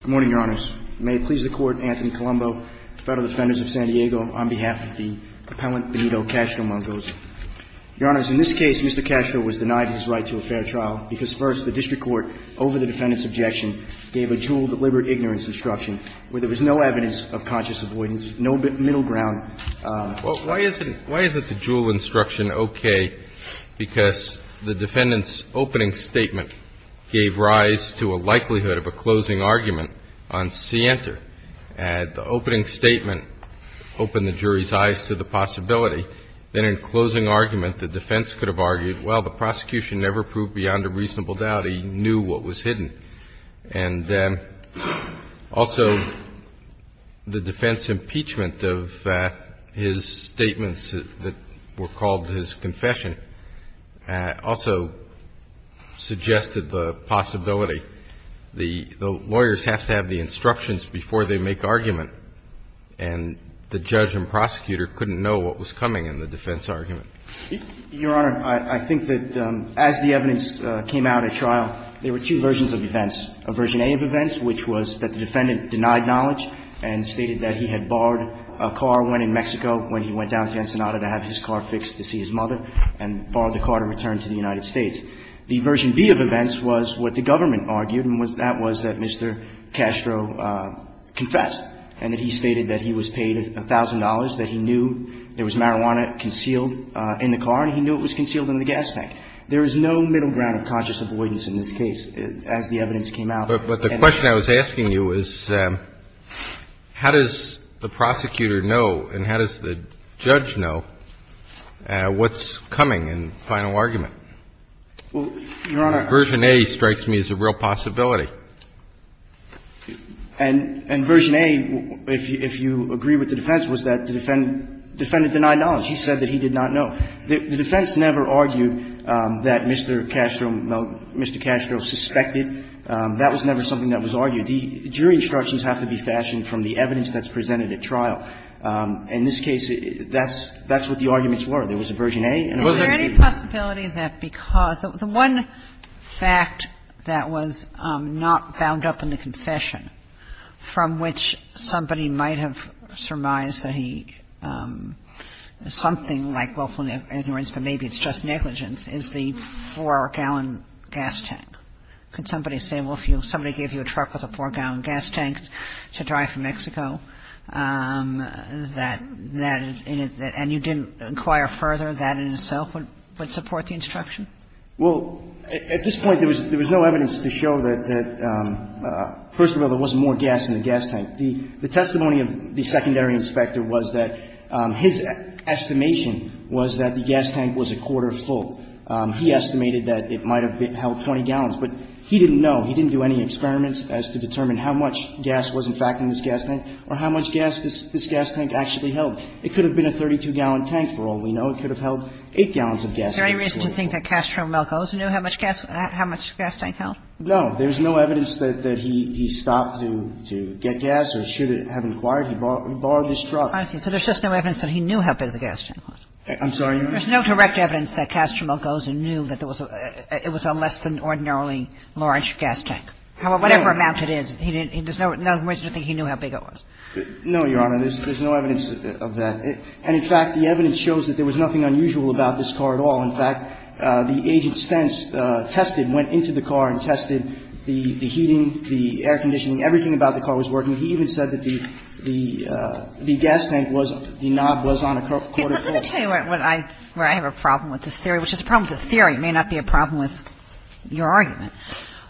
Good morning, Your Honors. May it please the Court, Anthony Colombo, Federal Defenders of San Diego, on behalf of the appellant Benito Castro-Melgoza. Your Honors, in this case, Mr. Castro was denied his right to a fair trial because, first, the district court, over the defendant's objection, gave a dual deliberate ignorance instruction where there was no evidence of conscious avoidance, no middle ground. Well, why isn't the dual instruction okay? Because the defendant's opening statement gave rise to a likelihood of a closing argument on Center. The opening statement opened the jury's eyes to the possibility that in closing argument the defense could have argued, well, the prosecution never proved beyond a reasonable doubt he knew what was hidden. And also, the defense impeachment of his statements that were called his confession also suggested the possibility. The lawyers have to have the instructions before they make argument, and the judge and prosecutor couldn't know what was coming in the defense argument. Your Honor, I think that as the evidence came out at trial, there were two versions of events. A version A of events, which was that the defendant denied knowledge and stated that he had borrowed a car, went in Mexico when he went down to Ensenada to have his car fixed to see his mother, and borrowed the car to return to the United States. The version B of events was what the government argued, and that was that Mr. Castro confessed and that he stated that he was paid $1,000, that he knew there was marijuana concealed in the car and he knew it was concealed in the gas tank. There is no middle ground of conscious avoidance in this case as the evidence came out. But the question I was asking you is how does the prosecutor know and how does the judge know what's coming in final argument? Well, Your Honor. Version A strikes me as a real possibility. And version A, if you agree with the defense, was that the defendant denied knowledge. He said that he did not know. The defense never argued that Mr. Castro, well, Mr. Castro suspected. That was never something that was argued. The jury instructions have to be fashioned from the evidence that's presented at trial. In this case, that's what the arguments were. There was a version A and a version B. The possibility that because the one fact that was not bound up in the confession from which somebody might have surmised that he, something like willful ignorance, but maybe it's just negligence, is the 4-gallon gas tank. Could somebody say, well, if somebody gave you a truck with a 4-gallon gas tank to drive from Mexico, that that is in it, and you didn't inquire further, that in itself would support the instruction? Well, at this point, there was no evidence to show that, first of all, there wasn't more gas in the gas tank. The testimony of the secondary inspector was that his estimation was that the gas tank was a quarter full. He estimated that it might have held 20 gallons. But he didn't know. He didn't do any experiments as to determine how much gas was in fact in this gas tank or how much gas this gas tank actually held. It could have been a 32-gallon tank, for all we know. It could have held 8 gallons of gas. Is there any reason to think that Castro Melcos knew how much gas the gas tank held? No. There's no evidence that he stopped to get gas or should have inquired. He borrowed this truck. I see. So there's just no evidence that he knew how big the gas tank was. I'm sorry, Your Honor? There's no direct evidence that Castro Melcos knew that it was a less than ordinarily holding large gas tank. Whatever amount it is, there's no reason to think he knew how big it was. No, Your Honor. There's no evidence of that. And, in fact, the evidence shows that there was nothing unusual about this car at all. In fact, the agent Stentz tested, went into the car and tested the heating, the air conditioning, everything about the car was working. He even said that the gas tank was the knob was on a quarter full. Let me tell you where I have a problem with this theory, which is the problem with the theory may not be a problem with your argument,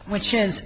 which is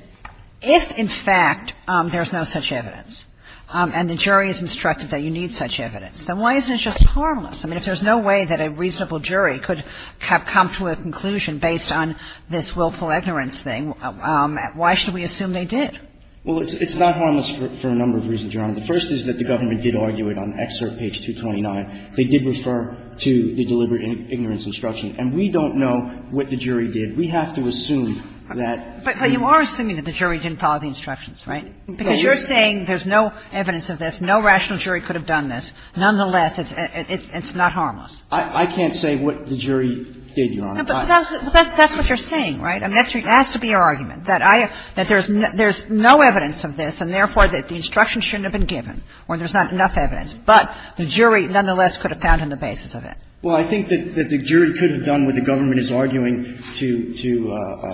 if, in fact, there's no such evidence and the jury is instructed that you need such evidence, then why isn't it just harmless? I mean, if there's no way that a reasonable jury could have come to a conclusion based on this willful ignorance thing, why should we assume they did? Well, it's not harmless for a number of reasons, Your Honor. The first is that the government did argue it on excerpt page 229. They did refer to the deliberate ignorance instruction. And we don't know what the jury did. We have to assume that the jury didn't follow the instructions, right? Because you're saying there's no evidence of this, no rational jury could have done this. Nonetheless, it's not harmless. I can't say what the jury did, Your Honor. But that's what you're saying, right? I mean, that has to be your argument, that there's no evidence of this and, therefore, that the instruction shouldn't have been given or there's not enough evidence. But the jury, nonetheless, could have found in the basis of it. Well, I think that the jury could have done what the government is arguing to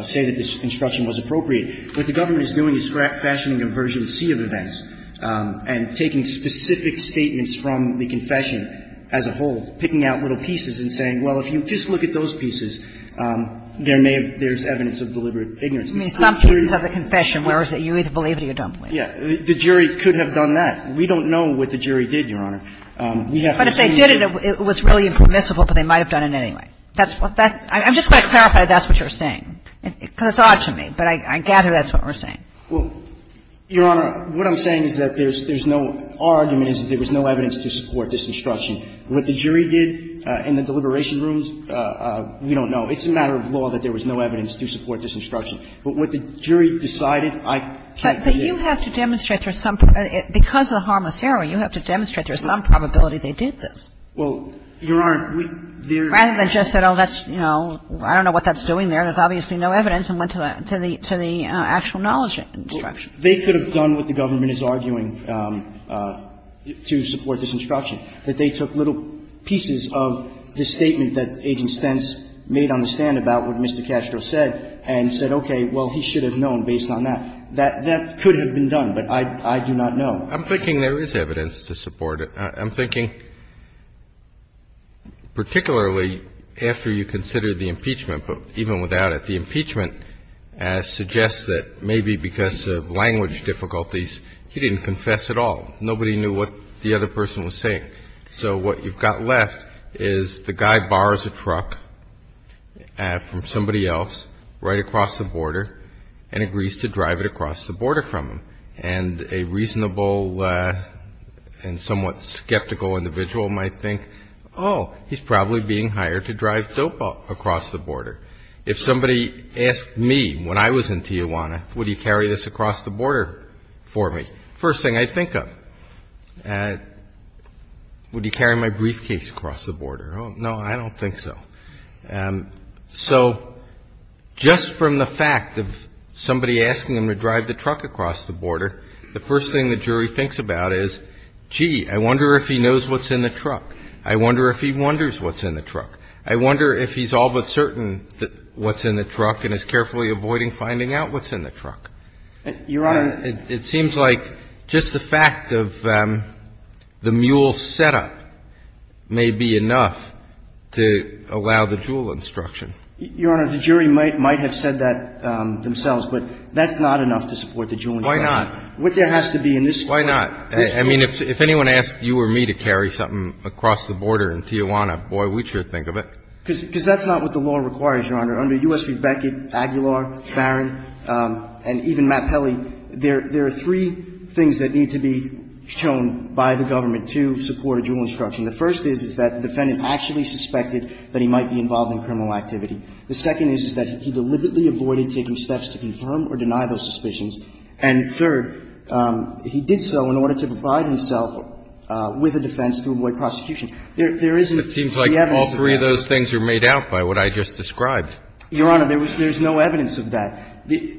say that this instruction was appropriate. What the government is doing is scrap-fashioning a version C of events and taking specific statements from the confession as a whole, picking out little pieces and saying, well, if you just look at those pieces, there may have been evidence of deliberate ignorance. Some pieces of the confession, whereas you either believe it or you don't believe it. Yeah. The jury could have done that. We don't know what the jury did, Your Honor. But if they did it, it was really impermissible, but they might have done it anyway. That's what that's – I'm just going to clarify that's what you're saying, because it's odd to me. But I gather that's what we're saying. Well, Your Honor, what I'm saying is that there's no – our argument is that there was no evidence to support this instruction. What the jury did in the deliberation rooms, we don't know. It's a matter of law that there was no evidence to support this instruction. But what the jury decided, I can't say. But you have to demonstrate there's some – because of the harmless error, you have to demonstrate there's some probability they did this. Well, Your Honor, we – there's – Rather than just say, oh, that's – you know, I don't know what that's doing there. There's obviously no evidence, and went to the actual knowledge instruction. They could have done what the government is arguing to support this instruction, that they took little pieces of the statement that Agent Stentz made on the stand about what Mr. Castro said and said, okay, well, he should have known based on that. That could have been done, but I do not know. I'm thinking there is evidence to support it. I'm thinking particularly after you consider the impeachment, but even without it. The impeachment suggests that maybe because of language difficulties, he didn't confess at all. Nobody knew what the other person was saying. So what you've got left is the guy borrows a truck from somebody else right across the border and agrees to drive it across the border from him. And a reasonable and somewhat skeptical individual might think, oh, he's probably being hired to drive dope across the border. If somebody asked me when I was in Tijuana, would he carry this across the border for me? First thing I think of, would he carry my briefcase across the border? Oh, no, I don't think so. So just from the fact of somebody asking him to drive the truck across the border, the first thing the jury thinks about is, gee, I wonder if he knows what's in the truck. I wonder if he wonders what's in the truck. I wonder if he's all but certain what's in the truck and is carefully avoiding finding out what's in the truck. Your Honor. It seems like just the fact of the mule setup may be enough to allow the jewel instruction. Your Honor, the jury might have said that themselves, but that's not enough to support the jewel instruction. Why not? What there has to be in this court. Why not? I mean, if anyone asked you or me to carry something across the border in Tijuana, boy, we'd sure think of it. Because that's not what the law requires, Your Honor. Under U.S. v. Beckett, Aguilar, Barron, and even Matt Pelley, there are three things that need to be shown by the government to support a jewel instruction. The first is, is that the defendant actually suspected that he might be involved in criminal activity. The second is, is that he deliberately avoided taking steps to confirm or deny those suspicions. And third, he did so in order to provide himself with a defense to avoid prosecution. There isn't any evidence of that. It seems like all three of those things are made out by what I just described. Your Honor, there's no evidence of that. The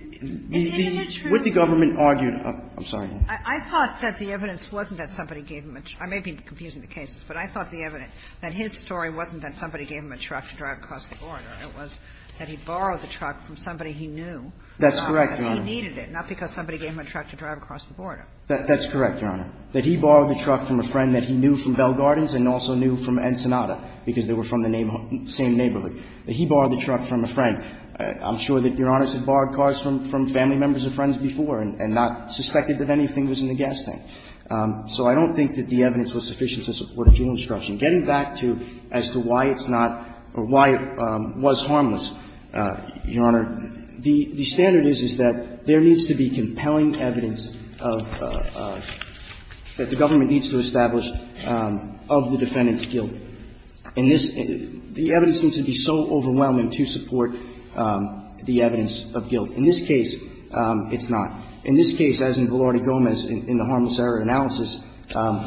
what the government argued, I'm sorry. I thought that the evidence wasn't that somebody gave him a truck. I may be confusing the cases, but I thought the evidence, that his story wasn't that somebody gave him a truck to drive across the border. It was that he borrowed the truck from somebody he knew. That's correct, Your Honor. Because he needed it, not because somebody gave him a truck to drive across the border. That's correct, Your Honor. That he borrowed the truck from a friend that he knew from Bell Gardens and also knew from Ensenada, because they were from the same neighborhood. That he borrowed the truck from a friend. I'm sure that Your Honor has borrowed cars from family members or friends before and not suspected that anything was in the gas tank. So I don't think that the evidence was sufficient to support a felony disruption. Getting back to as to why it's not or why it was harmless, Your Honor, the standard is, is that there needs to be compelling evidence of the government needs to establish of the defendant's guilt. And this, the evidence needs to be so overwhelming to support the evidence of guilt. In this case, it's not. In this case, as in Velarde Gomez, in the harmless error analysis,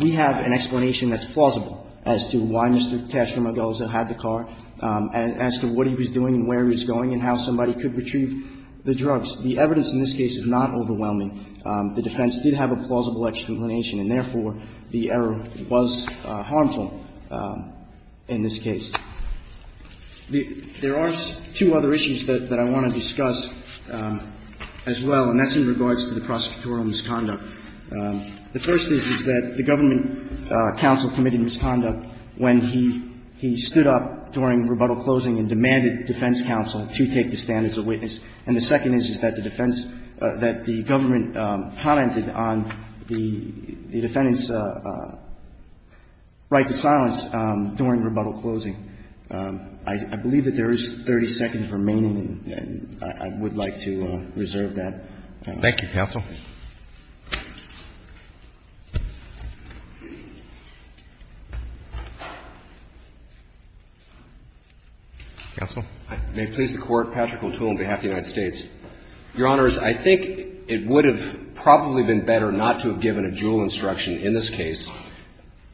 we have an explanation that's plausible as to why Mr. Cashner-Moggosa had the car and as to what he was doing and where he was going and how somebody could retrieve the drugs. The evidence in this case is not overwhelming. The defense did have a plausible explanation, and therefore, the error was harmful. In this case, there are two other issues that I want to discuss as well, and that's in regards to the prosecutorial misconduct. The first is, is that the government counsel committed misconduct when he stood up during rebuttal closing and demanded defense counsel to take the stand as a witness. And the second is, is that the defense, that the government commented on the defendant's right to silence during rebuttal closing. I believe that there is 30 seconds remaining, and I would like to reserve that. Thank you, counsel. Counsel? May it please the Court, Patrick O'Toole on behalf of the United States. Your Honors, I think it would have probably been better not to have given a dual instruction in this case.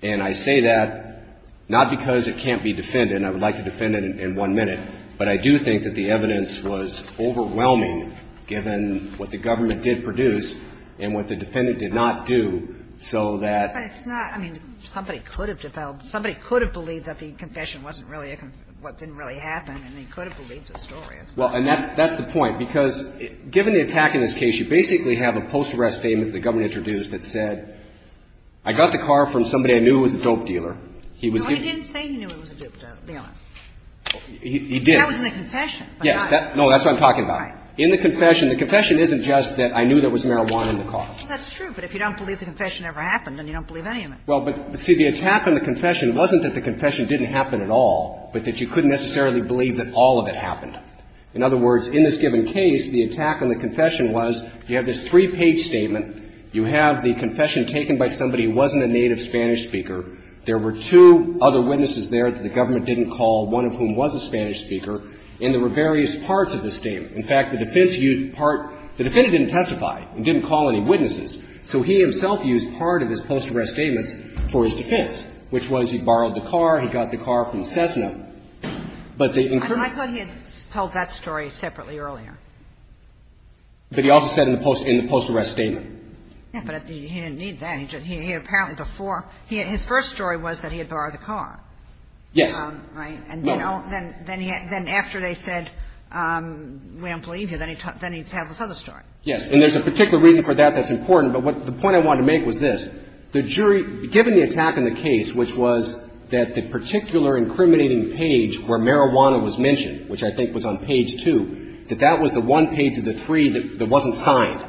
And I say that not because it can't be defended, and I would like to defend it in one minute, but I do think that the evidence was overwhelming, given what the government did produce and what the defendant did not do, so that... But it's not, I mean, somebody could have developed, somebody could have believed that the confession wasn't really, what didn't really happen, and they could have believed the story. Well, and that's the point, because given the attack in this case, you basically have a post-arrest statement that the government introduced that said, I got the car from somebody I knew who was a dope dealer. No, he didn't say he knew he was a dope dealer. He did. That was in the confession. Yes. No, that's what I'm talking about. Right. In the confession, the confession isn't just that I knew there was marijuana in the car. Well, that's true, but if you don't believe the confession ever happened, then you don't believe any of it. Well, but, see, the attack on the confession wasn't that the confession didn't happen at all, but that you couldn't necessarily believe that all of it happened. In other words, in this given case, the attack on the confession was you have this three page statement. You have the confession taken by somebody who wasn't a native Spanish speaker. There were two other witnesses there that the government didn't call, one of whom was a Spanish speaker, and there were various parts of the statement. In fact, the defense used part the defendant didn't testify. He didn't call any witnesses. So he himself used part of his post-arrest statements for his defense, which was he borrowed the car, he got the car from Cessna. I thought he had told that story separately earlier. But he also said in the post-arrest statement. Yeah, but he didn't need that. He apparently before, his first story was that he had borrowed the car. Yes. Right? No. And then after they said we don't believe you, then he tells this other story. Yes. And there's a particular reason for that that's important, but the point I wanted to make was this. The jury, given the attack in the case, which was that the particular incriminating page where marijuana was mentioned, which I think was on page two, that that was the one page of the three that wasn't signed.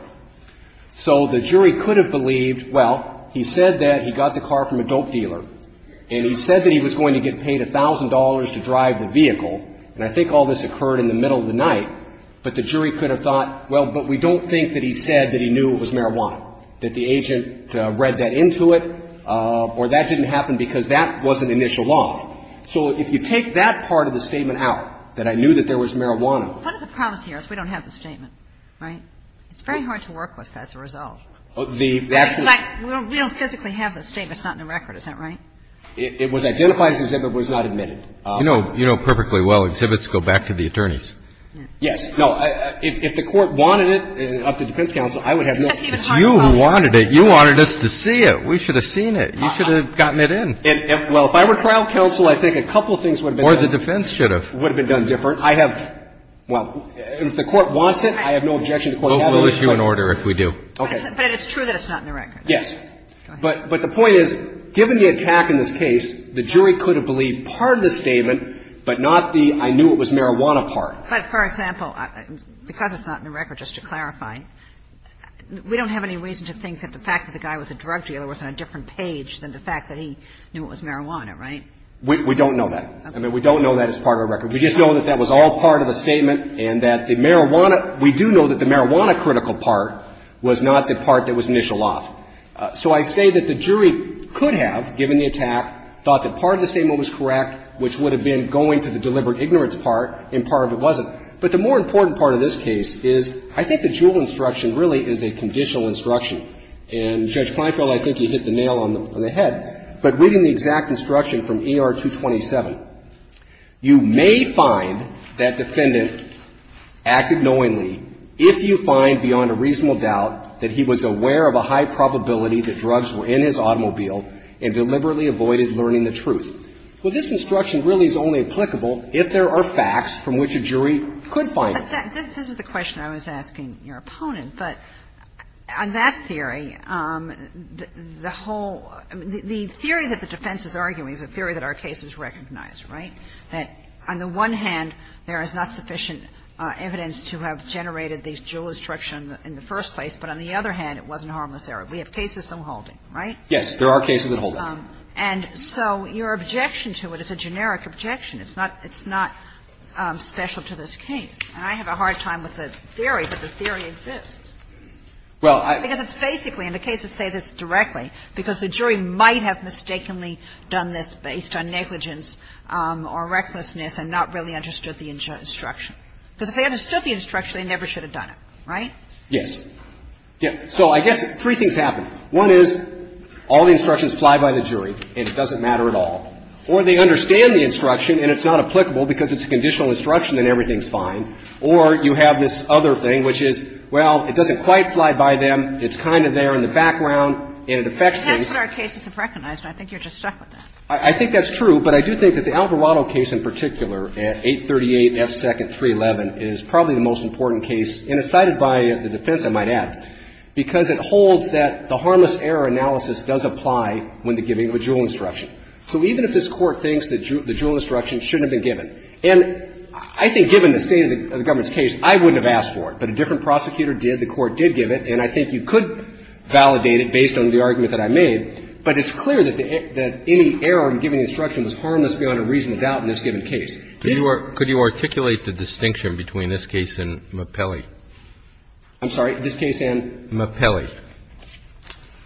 So the jury could have believed, well, he said that he got the car from a dope dealer, and he said that he was going to get paid $1,000 to drive the vehicle, and I think all this occurred in the middle of the night, but the jury could have thought, well, but we don't think that he said that he knew it was marijuana, that the agent read that into it, or that didn't happen because that wasn't initial law. So if you take that part of the statement out, that I knew that there was marijuana What is the problem here is we don't have the statement, right? It's very hard to work with as a result. We don't physically have the statement. It's not in the record. Is that right? It was identified as an exhibit, but it was not admitted. You know perfectly well exhibits go back to the attorneys. Yes. No. If the Court wanted it up to defense counsel, I would have known. It's you who wanted it. You wanted us to see it. We should have seen it. You should have gotten it in. Well, if I were trial counsel, I think a couple of things would have been done. Or the defense should have. Would have been done different. I have, well, if the Court wants it, I have no objection to the Court having it. We'll issue an order if we do. Okay. But it's true that it's not in the record. Yes. Go ahead. But the point is, given the attack in this case, the jury could have believed part of the statement, but not the I knew it was marijuana part. But, for example, because it's not in the record, just to clarify, we don't have any reason to think that the fact that the guy was a drug dealer was on a different page than the fact that he knew it was marijuana, right? We don't know that. Okay. I mean, we don't know that it's part of the record. We just know that that was all part of a statement and that the marijuana we do know that the marijuana critical part was not the part that was initial off. So I say that the jury could have, given the attack, thought that part of the statement was correct, which would have been going to the deliberate ignorance part, and part of it wasn't. But the more important part of this case is I think the Juul instruction really is a conditional instruction. And, Judge Kleinfeld, I think you hit the nail on the head, but reading the exact instruction from ER 227, you may find that defendant acted knowingly if you find beyond a reasonable doubt that he was aware of a high probability that drugs were in his automobile and deliberately avoided learning the truth. Well, this instruction really is only applicable if there are facts from which a jury could find it. This is the question I was asking your opponent. But on that theory, the whole the theory that the defense is arguing is a theory that our case is recognized, right? That on the one hand, there is not sufficient evidence to have generated the Juul instruction in the first place. But on the other hand, it wasn't harmless error. We have cases in holding, right? Yes. There are cases in holding. And so your objection to it is a generic objection. It's not special to this case. And I have a hard time with the theory, but the theory exists. Well, I – Because it's basically, and the cases say this directly, because the jury might have mistakenly done this based on negligence or recklessness and not really understood the instruction. Because if they understood the instruction, they never should have done it, right? Yes. Yes. So I guess three things happen. One is all the instructions fly by the jury and it doesn't matter at all. Or they understand the instruction and it's not applicable because it's a conditional instruction and everything's fine. Or you have this other thing, which is, well, it doesn't quite fly by them, it's kind of there in the background, and it affects things. But that's what our cases have recognized, and I think you're just stuck with that. I think that's true. But I do think that the Alvarado case in particular, 838 F. 2nd. 311, is probably the most important case, and it's cited by the defense, I might add, because it holds that the harmless error analysis does apply when they're giving a Juul instruction. So even if this Court thinks that the Juul instruction shouldn't have been given and I think given the state of the government's case, I wouldn't have asked for it. But a different prosecutor did, the Court did give it, and I think you could validate it based on the argument that I made. But it's clear that any error in giving the instruction was harmless beyond a reasonable doubt in this given case. Could you articulate the distinction between this case and Mapelli? I'm sorry? This case and? Mapelli.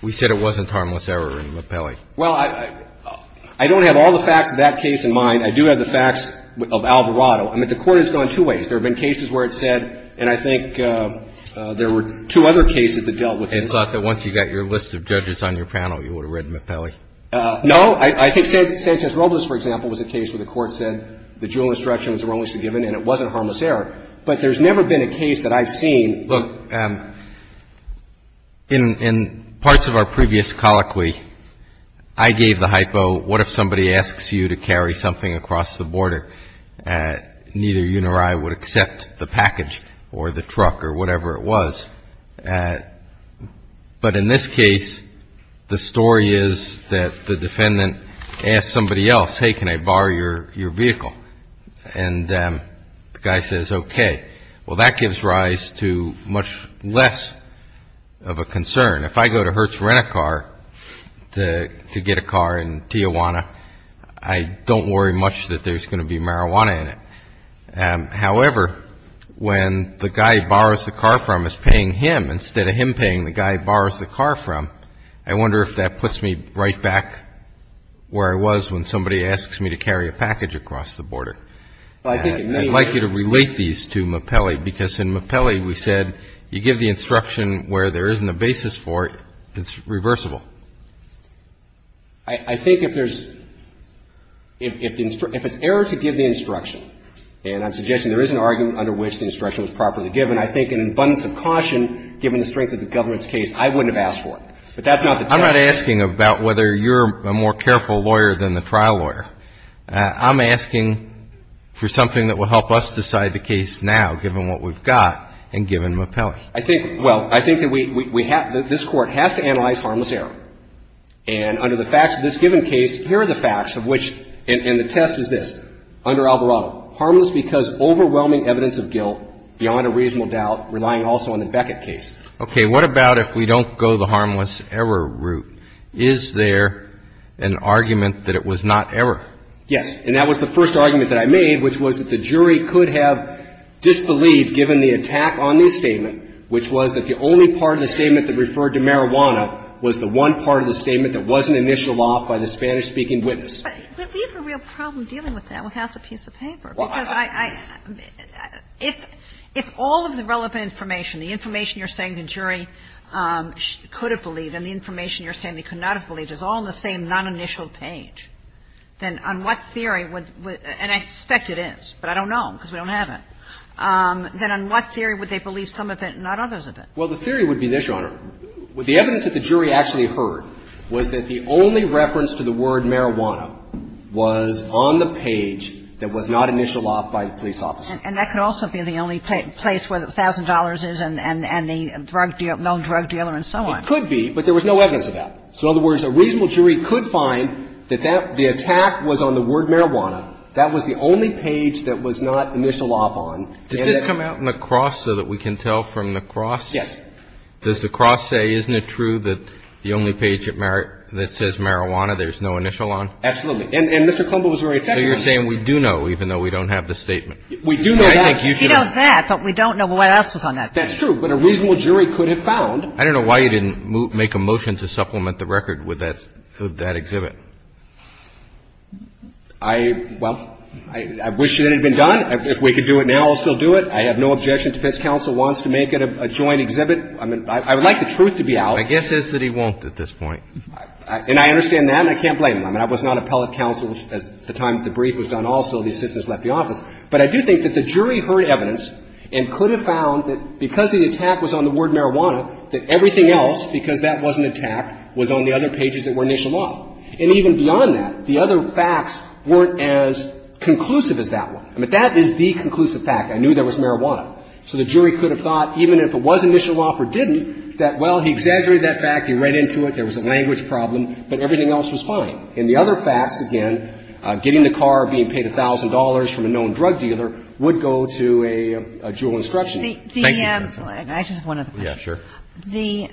We said it wasn't harmless error in Mapelli. Well, I don't have all the facts of that case in mind. I do have the facts of Alvarado. I mean, the Court has gone two ways. There have been cases where it said, and I think there were two other cases that dealt with this. And thought that once you got your list of judges on your panel, you would have read Mapelli. No. I think Sanchez-Robles, for example, was a case where the Court said the Juul instruction was the wrongest to have given and it wasn't harmless error. But there's never been a case that I've seen. Look, in parts of our previous colloquy, I gave the hypo, what if somebody asks you to get a car and you say, okay, let's go to Hertz Rent-A-Car in Tijuana. If I get a car and I'm in a parking lot and I'm across the border, neither you nor I would accept the package or the truck or whatever it was. But in this case, the story is that the defendant asked somebody else, hey, can I borrow your vehicle? And the guy says, okay. Well, that gives rise to much less of a concern. If I go to Hertz Rent-A-Car to get a car in Tijuana, I don't worry much that there's going to be marijuana in it. However, when the guy he borrows the car from is paying him instead of him paying the guy he borrows the car from, I wonder if that puts me right back where I was when somebody asks me to carry a package across the border. I'd like you to relate these to Mapelli because in Mapelli we said you give the instruction where there isn't a basis for it, it's reversible. I think if there's, if it's error to give the instruction, and I'm suggesting there is an argument under which the instruction was properly given, I think an abundance of caution, given the strength of the government's case, I wouldn't have asked for it. But that's not the case. I'm not asking about whether you're a more careful lawyer than the trial lawyer. I'm asking for something that will help us decide the case now, given what we've got and given Mapelli. I think, well, I think that we have, that this Court has to analyze harmless error. And under the facts of this given case, here are the facts of which, and the test is this. Under Alvarado, harmless because overwhelming evidence of guilt beyond a reasonable doubt, relying also on the Beckett case. Okay. What about if we don't go the harmless error route? Is there an argument that it was not error? Yes. And that was the first argument that I made, which was that the jury could have disbelieved given the attack on this statement, which was that the only part of the statement that referred to marijuana was the one part of the statement that wasn't initialed off by the Spanish-speaking witness. But we have a real problem dealing with that without the piece of paper. Why? Because I, if all of the relevant information, the information you're saying the jury could have believed and the information you're saying they could not have believed is all on the same non-initial page, then on what theory would, and I suspect it is, but I don't know because we don't have it. Then on what theory would they believe some of it and not others of it? Well, the theory would be this, Your Honor. The evidence that the jury actually heard was that the only reference to the word marijuana was on the page that was not initialed off by the police officer. And that could also be the only place where the $1,000 is and the drug dealer, known drug dealer and so on. It could be, but there was no evidence of that. So in other words, a reasonable jury could find that the attack was on the word marijuana. That was the only page that was not initialed off on. Did this come out in the cross so that we can tell from the cross? Yes. Does the cross say, isn't it true that the only page that says marijuana there's no initial on? Absolutely. And Mr. Clumbo was very effective. So you're saying we do know, even though we don't have the statement. We do know that. We know that, but we don't know what else was on that page. That's true. But a reasonable jury could have found. I don't know why you didn't make a motion to supplement the record with that exhibit. I, well, I wish it had been done. If we could do it now, I'll still do it. I have no objection to if this counsel wants to make it a joint exhibit. I mean, I would like the truth to be out. My guess is that he won't at this point. And I understand that. And I can't blame him. I mean, I was not appellate counsel at the time that the brief was done also. The assistants left the office. But I do think that the jury heard evidence and could have found that because the attack was on the word marijuana, that everything else, because that wasn't attacked, was on the other pages that were initialed off. And even beyond that, the other facts weren't as conclusive as that one. I mean, that is the conclusive fact. I knew there was marijuana. So the jury could have thought, even if it was initialed off or didn't, that, well, he exaggerated that fact. He read into it. There was a language problem. But everything else was fine. In the other facts, again, getting the car, being paid $1,000 from a known drug dealer would go to a dual instruction. Thank you, counsel. I just have one other question. Yeah, sure. The,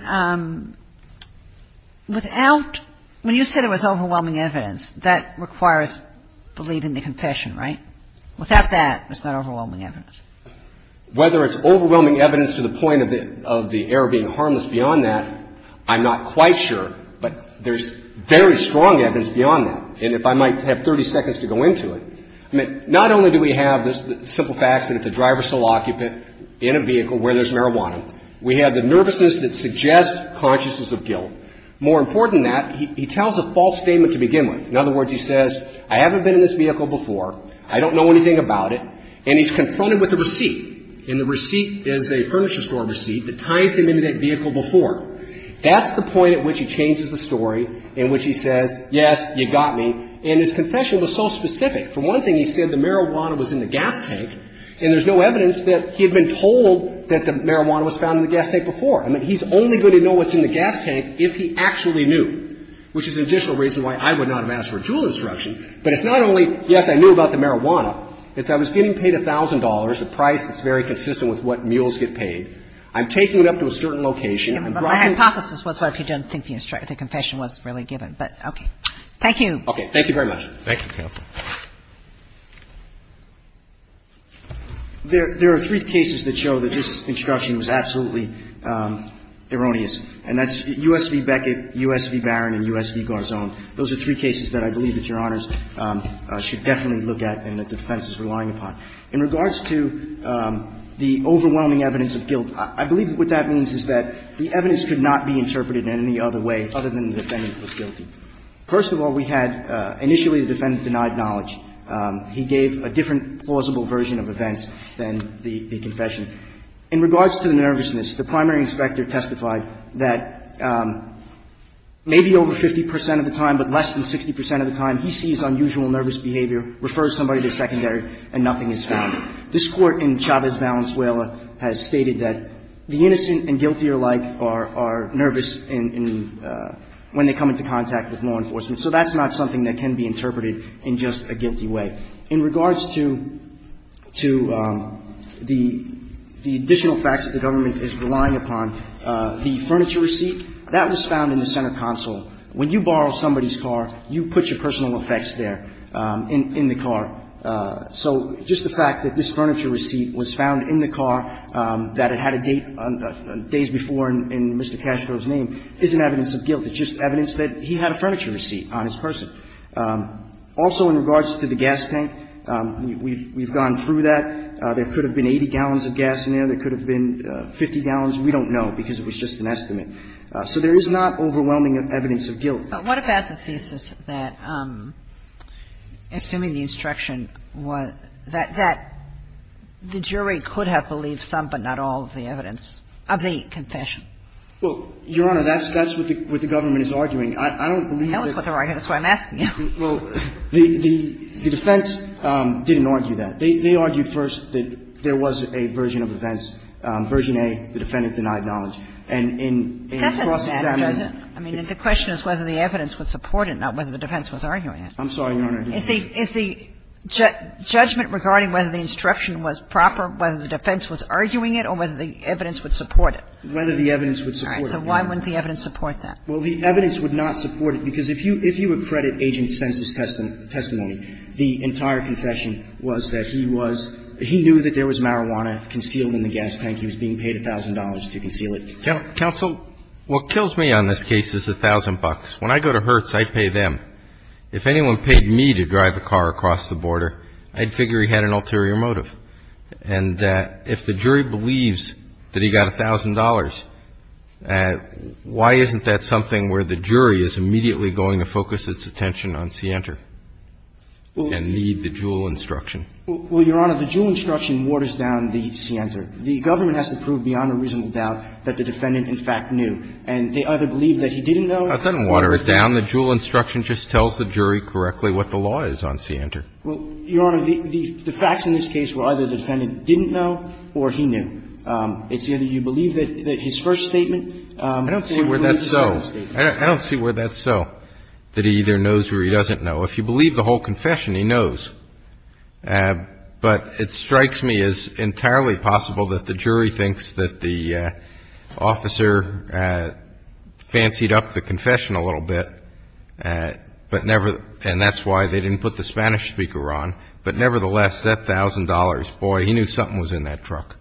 without, when you said it was overwhelming evidence, that requires believing the confession, right? Without that, it's not overwhelming evidence. Whether it's overwhelming evidence to the point of the error being harmless beyond that, I'm not quite sure. But there's very strong evidence beyond that. And if I might have 30 seconds to go into it, I mean, not only do we have the simple facts that if the driver's still occupant in a vehicle where there's marijuana, we have the nervousness that suggests consciousness of guilt. More important than that, he tells a false statement to begin with. In other words, he says, I haven't been in this vehicle before. I don't know anything about it. And he's confronted with a receipt. And the receipt is a furniture store receipt that ties him into that vehicle before. That's the point at which he changes the story in which he says, yes, you got me. And his confession was so specific. For one thing, he said the marijuana was in the gas tank. And there's no evidence that he had been told that the marijuana was found in the gas tank before. I mean, he's only going to know what's in the gas tank if he actually knew, which is an additional reason why I would not have asked for a jewel instruction. But it's not only, yes, I knew about the marijuana. It's I was getting paid $1,000, a price that's very consistent with what mules get paid. I'm taking it up to a certain location. I'm driving to a certain location. Kagan. But my hypothesis was what if you don't think the confession was really given. But, okay. Thank you. Thank you very much. Thank you, counsel. There are three cases that show that this instruction was absolutely erroneous. And that's U.S. v. Beckett, U.S. v. Barron, and U.S. v. Garzon. Those are three cases that I believe that Your Honors should definitely look at and that the defense is relying upon. In regards to the overwhelming evidence of guilt, I believe what that means is that the evidence could not be interpreted in any other way other than the defendant was guilty. First of all, we had initially the defendant denied knowledge. He gave a different plausible version of events than the confession. In regards to the nervousness, the primary inspector testified that maybe over 50 percent of the time, but less than 60 percent of the time, he sees unusual nervous behavior, refers somebody to secondary, and nothing is found. This Court in Chavez-Valenzuela has stated that the innocent and guilty alike are nervous when they come into contact with law enforcement. So that's not something that can be interpreted in just a guilty way. In regards to the additional facts that the government is relying upon, the furniture receipt, that was found in the center console. When you borrow somebody's car, you put your personal effects there in the car. So just the fact that this furniture receipt was found in the car, that it had a date on days before in Mr. Castro's name, isn't evidence of guilt. It's just evidence that he had a furniture receipt on his person. Also in regards to the gas tank, we've gone through that. There could have been 80 gallons of gas in there. There could have been 50 gallons. We don't know because it was just an estimate. So there is not overwhelming evidence of guilt. But what about the thesis that, assuming the instruction, that the jury could have believed some but not all of the evidence of the confession? Well, Your Honor, that's what the government is arguing. I don't believe that the defense didn't argue that. They argued first that there was a version of events, version A, the defendant denied knowledge. And in the process of examining it the question is whether the evidence would support it, not whether the defense was arguing it. I'm sorry, Your Honor. Is the judgment regarding whether the instruction was proper, whether the defense was arguing it, or whether the evidence would support it? Whether the evidence would support it. All right. So why wouldn't the evidence support that? Well, the evidence would not support it because if you would credit Agent Spence's testimony, the entire confession was that he was he knew that there was marijuana concealed in the gas tank. He was being paid $1,000 to conceal it. Counsel, what kills me on this case is $1,000. When I go to Hertz, I pay them. If anyone paid me to drive a car across the border, I'd figure he had an ulterior motive. And if the jury believes that he got $1,000, why isn't that something where the jury is immediately going to focus its attention on Sienter and need the Juul instruction? Well, Your Honor, the Juul instruction waters down the Sienter. The government has to prove beyond a reasonable doubt that the defendant, in fact, knew. And they either believe that he didn't know or that he didn't know. It doesn't water it down. The Juul instruction just tells the jury correctly what the law is on Sienter. Well, Your Honor, the facts in this case were either the defendant didn't know or he knew. It's either you believe that his first statement or you believe his second statement. I don't see where that's so. I don't see where that's so, that he either knows or he doesn't know. If you believe the whole confession, he knows. But it strikes me as entirely possible that the jury thinks that the officer fancied up the confession a little bit, but never – and that's why they didn't put the Spanish speaker on, but nevertheless, that $1,000, boy, he knew something was in that truck.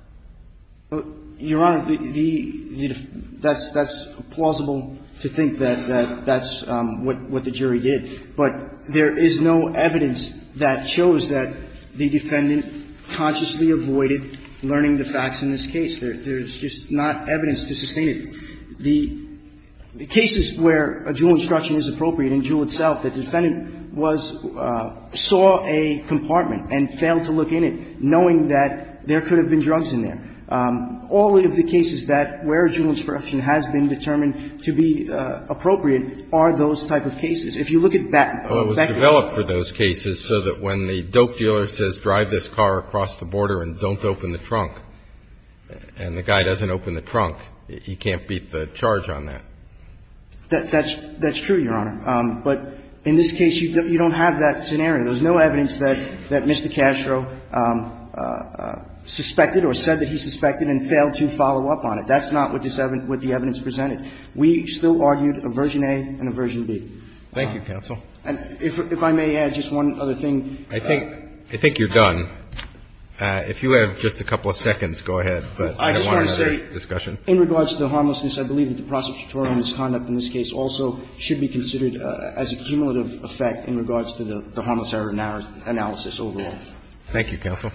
Your Honor, the – that's plausible to think that that's what the jury did. But there is no evidence that shows that the defendant consciously avoided learning the facts in this case. There's just not evidence to sustain it. The cases where a Juul instruction is appropriate in Juul itself, the defendant was – saw a compartment and failed to look in it, knowing that there could have been drugs in there. All of the cases that – where a Juul instruction has been determined to be appropriate are those type of cases. If you look at – Well, it was developed for those cases so that when the dope dealer says drive this car across the border and don't open the trunk, and the guy doesn't open the trunk, he can't beat the charge on that. That's true, Your Honor. But in this case, you don't have that scenario. There's no evidence that Mr. Castro suspected or said that he suspected and failed to follow up on it. That's not what the evidence presented. We still argued a version A and a version B. Thank you, counsel. And if I may add just one other thing. I think you're done. If you have just a couple of seconds, go ahead, but I don't want another discussion. I just want to say, in regards to the harmlessness, I believe that the prosecutorial conduct in this case also should be considered as a cumulative effect in regards to the harmless error analysis overall. Thank you, counsel.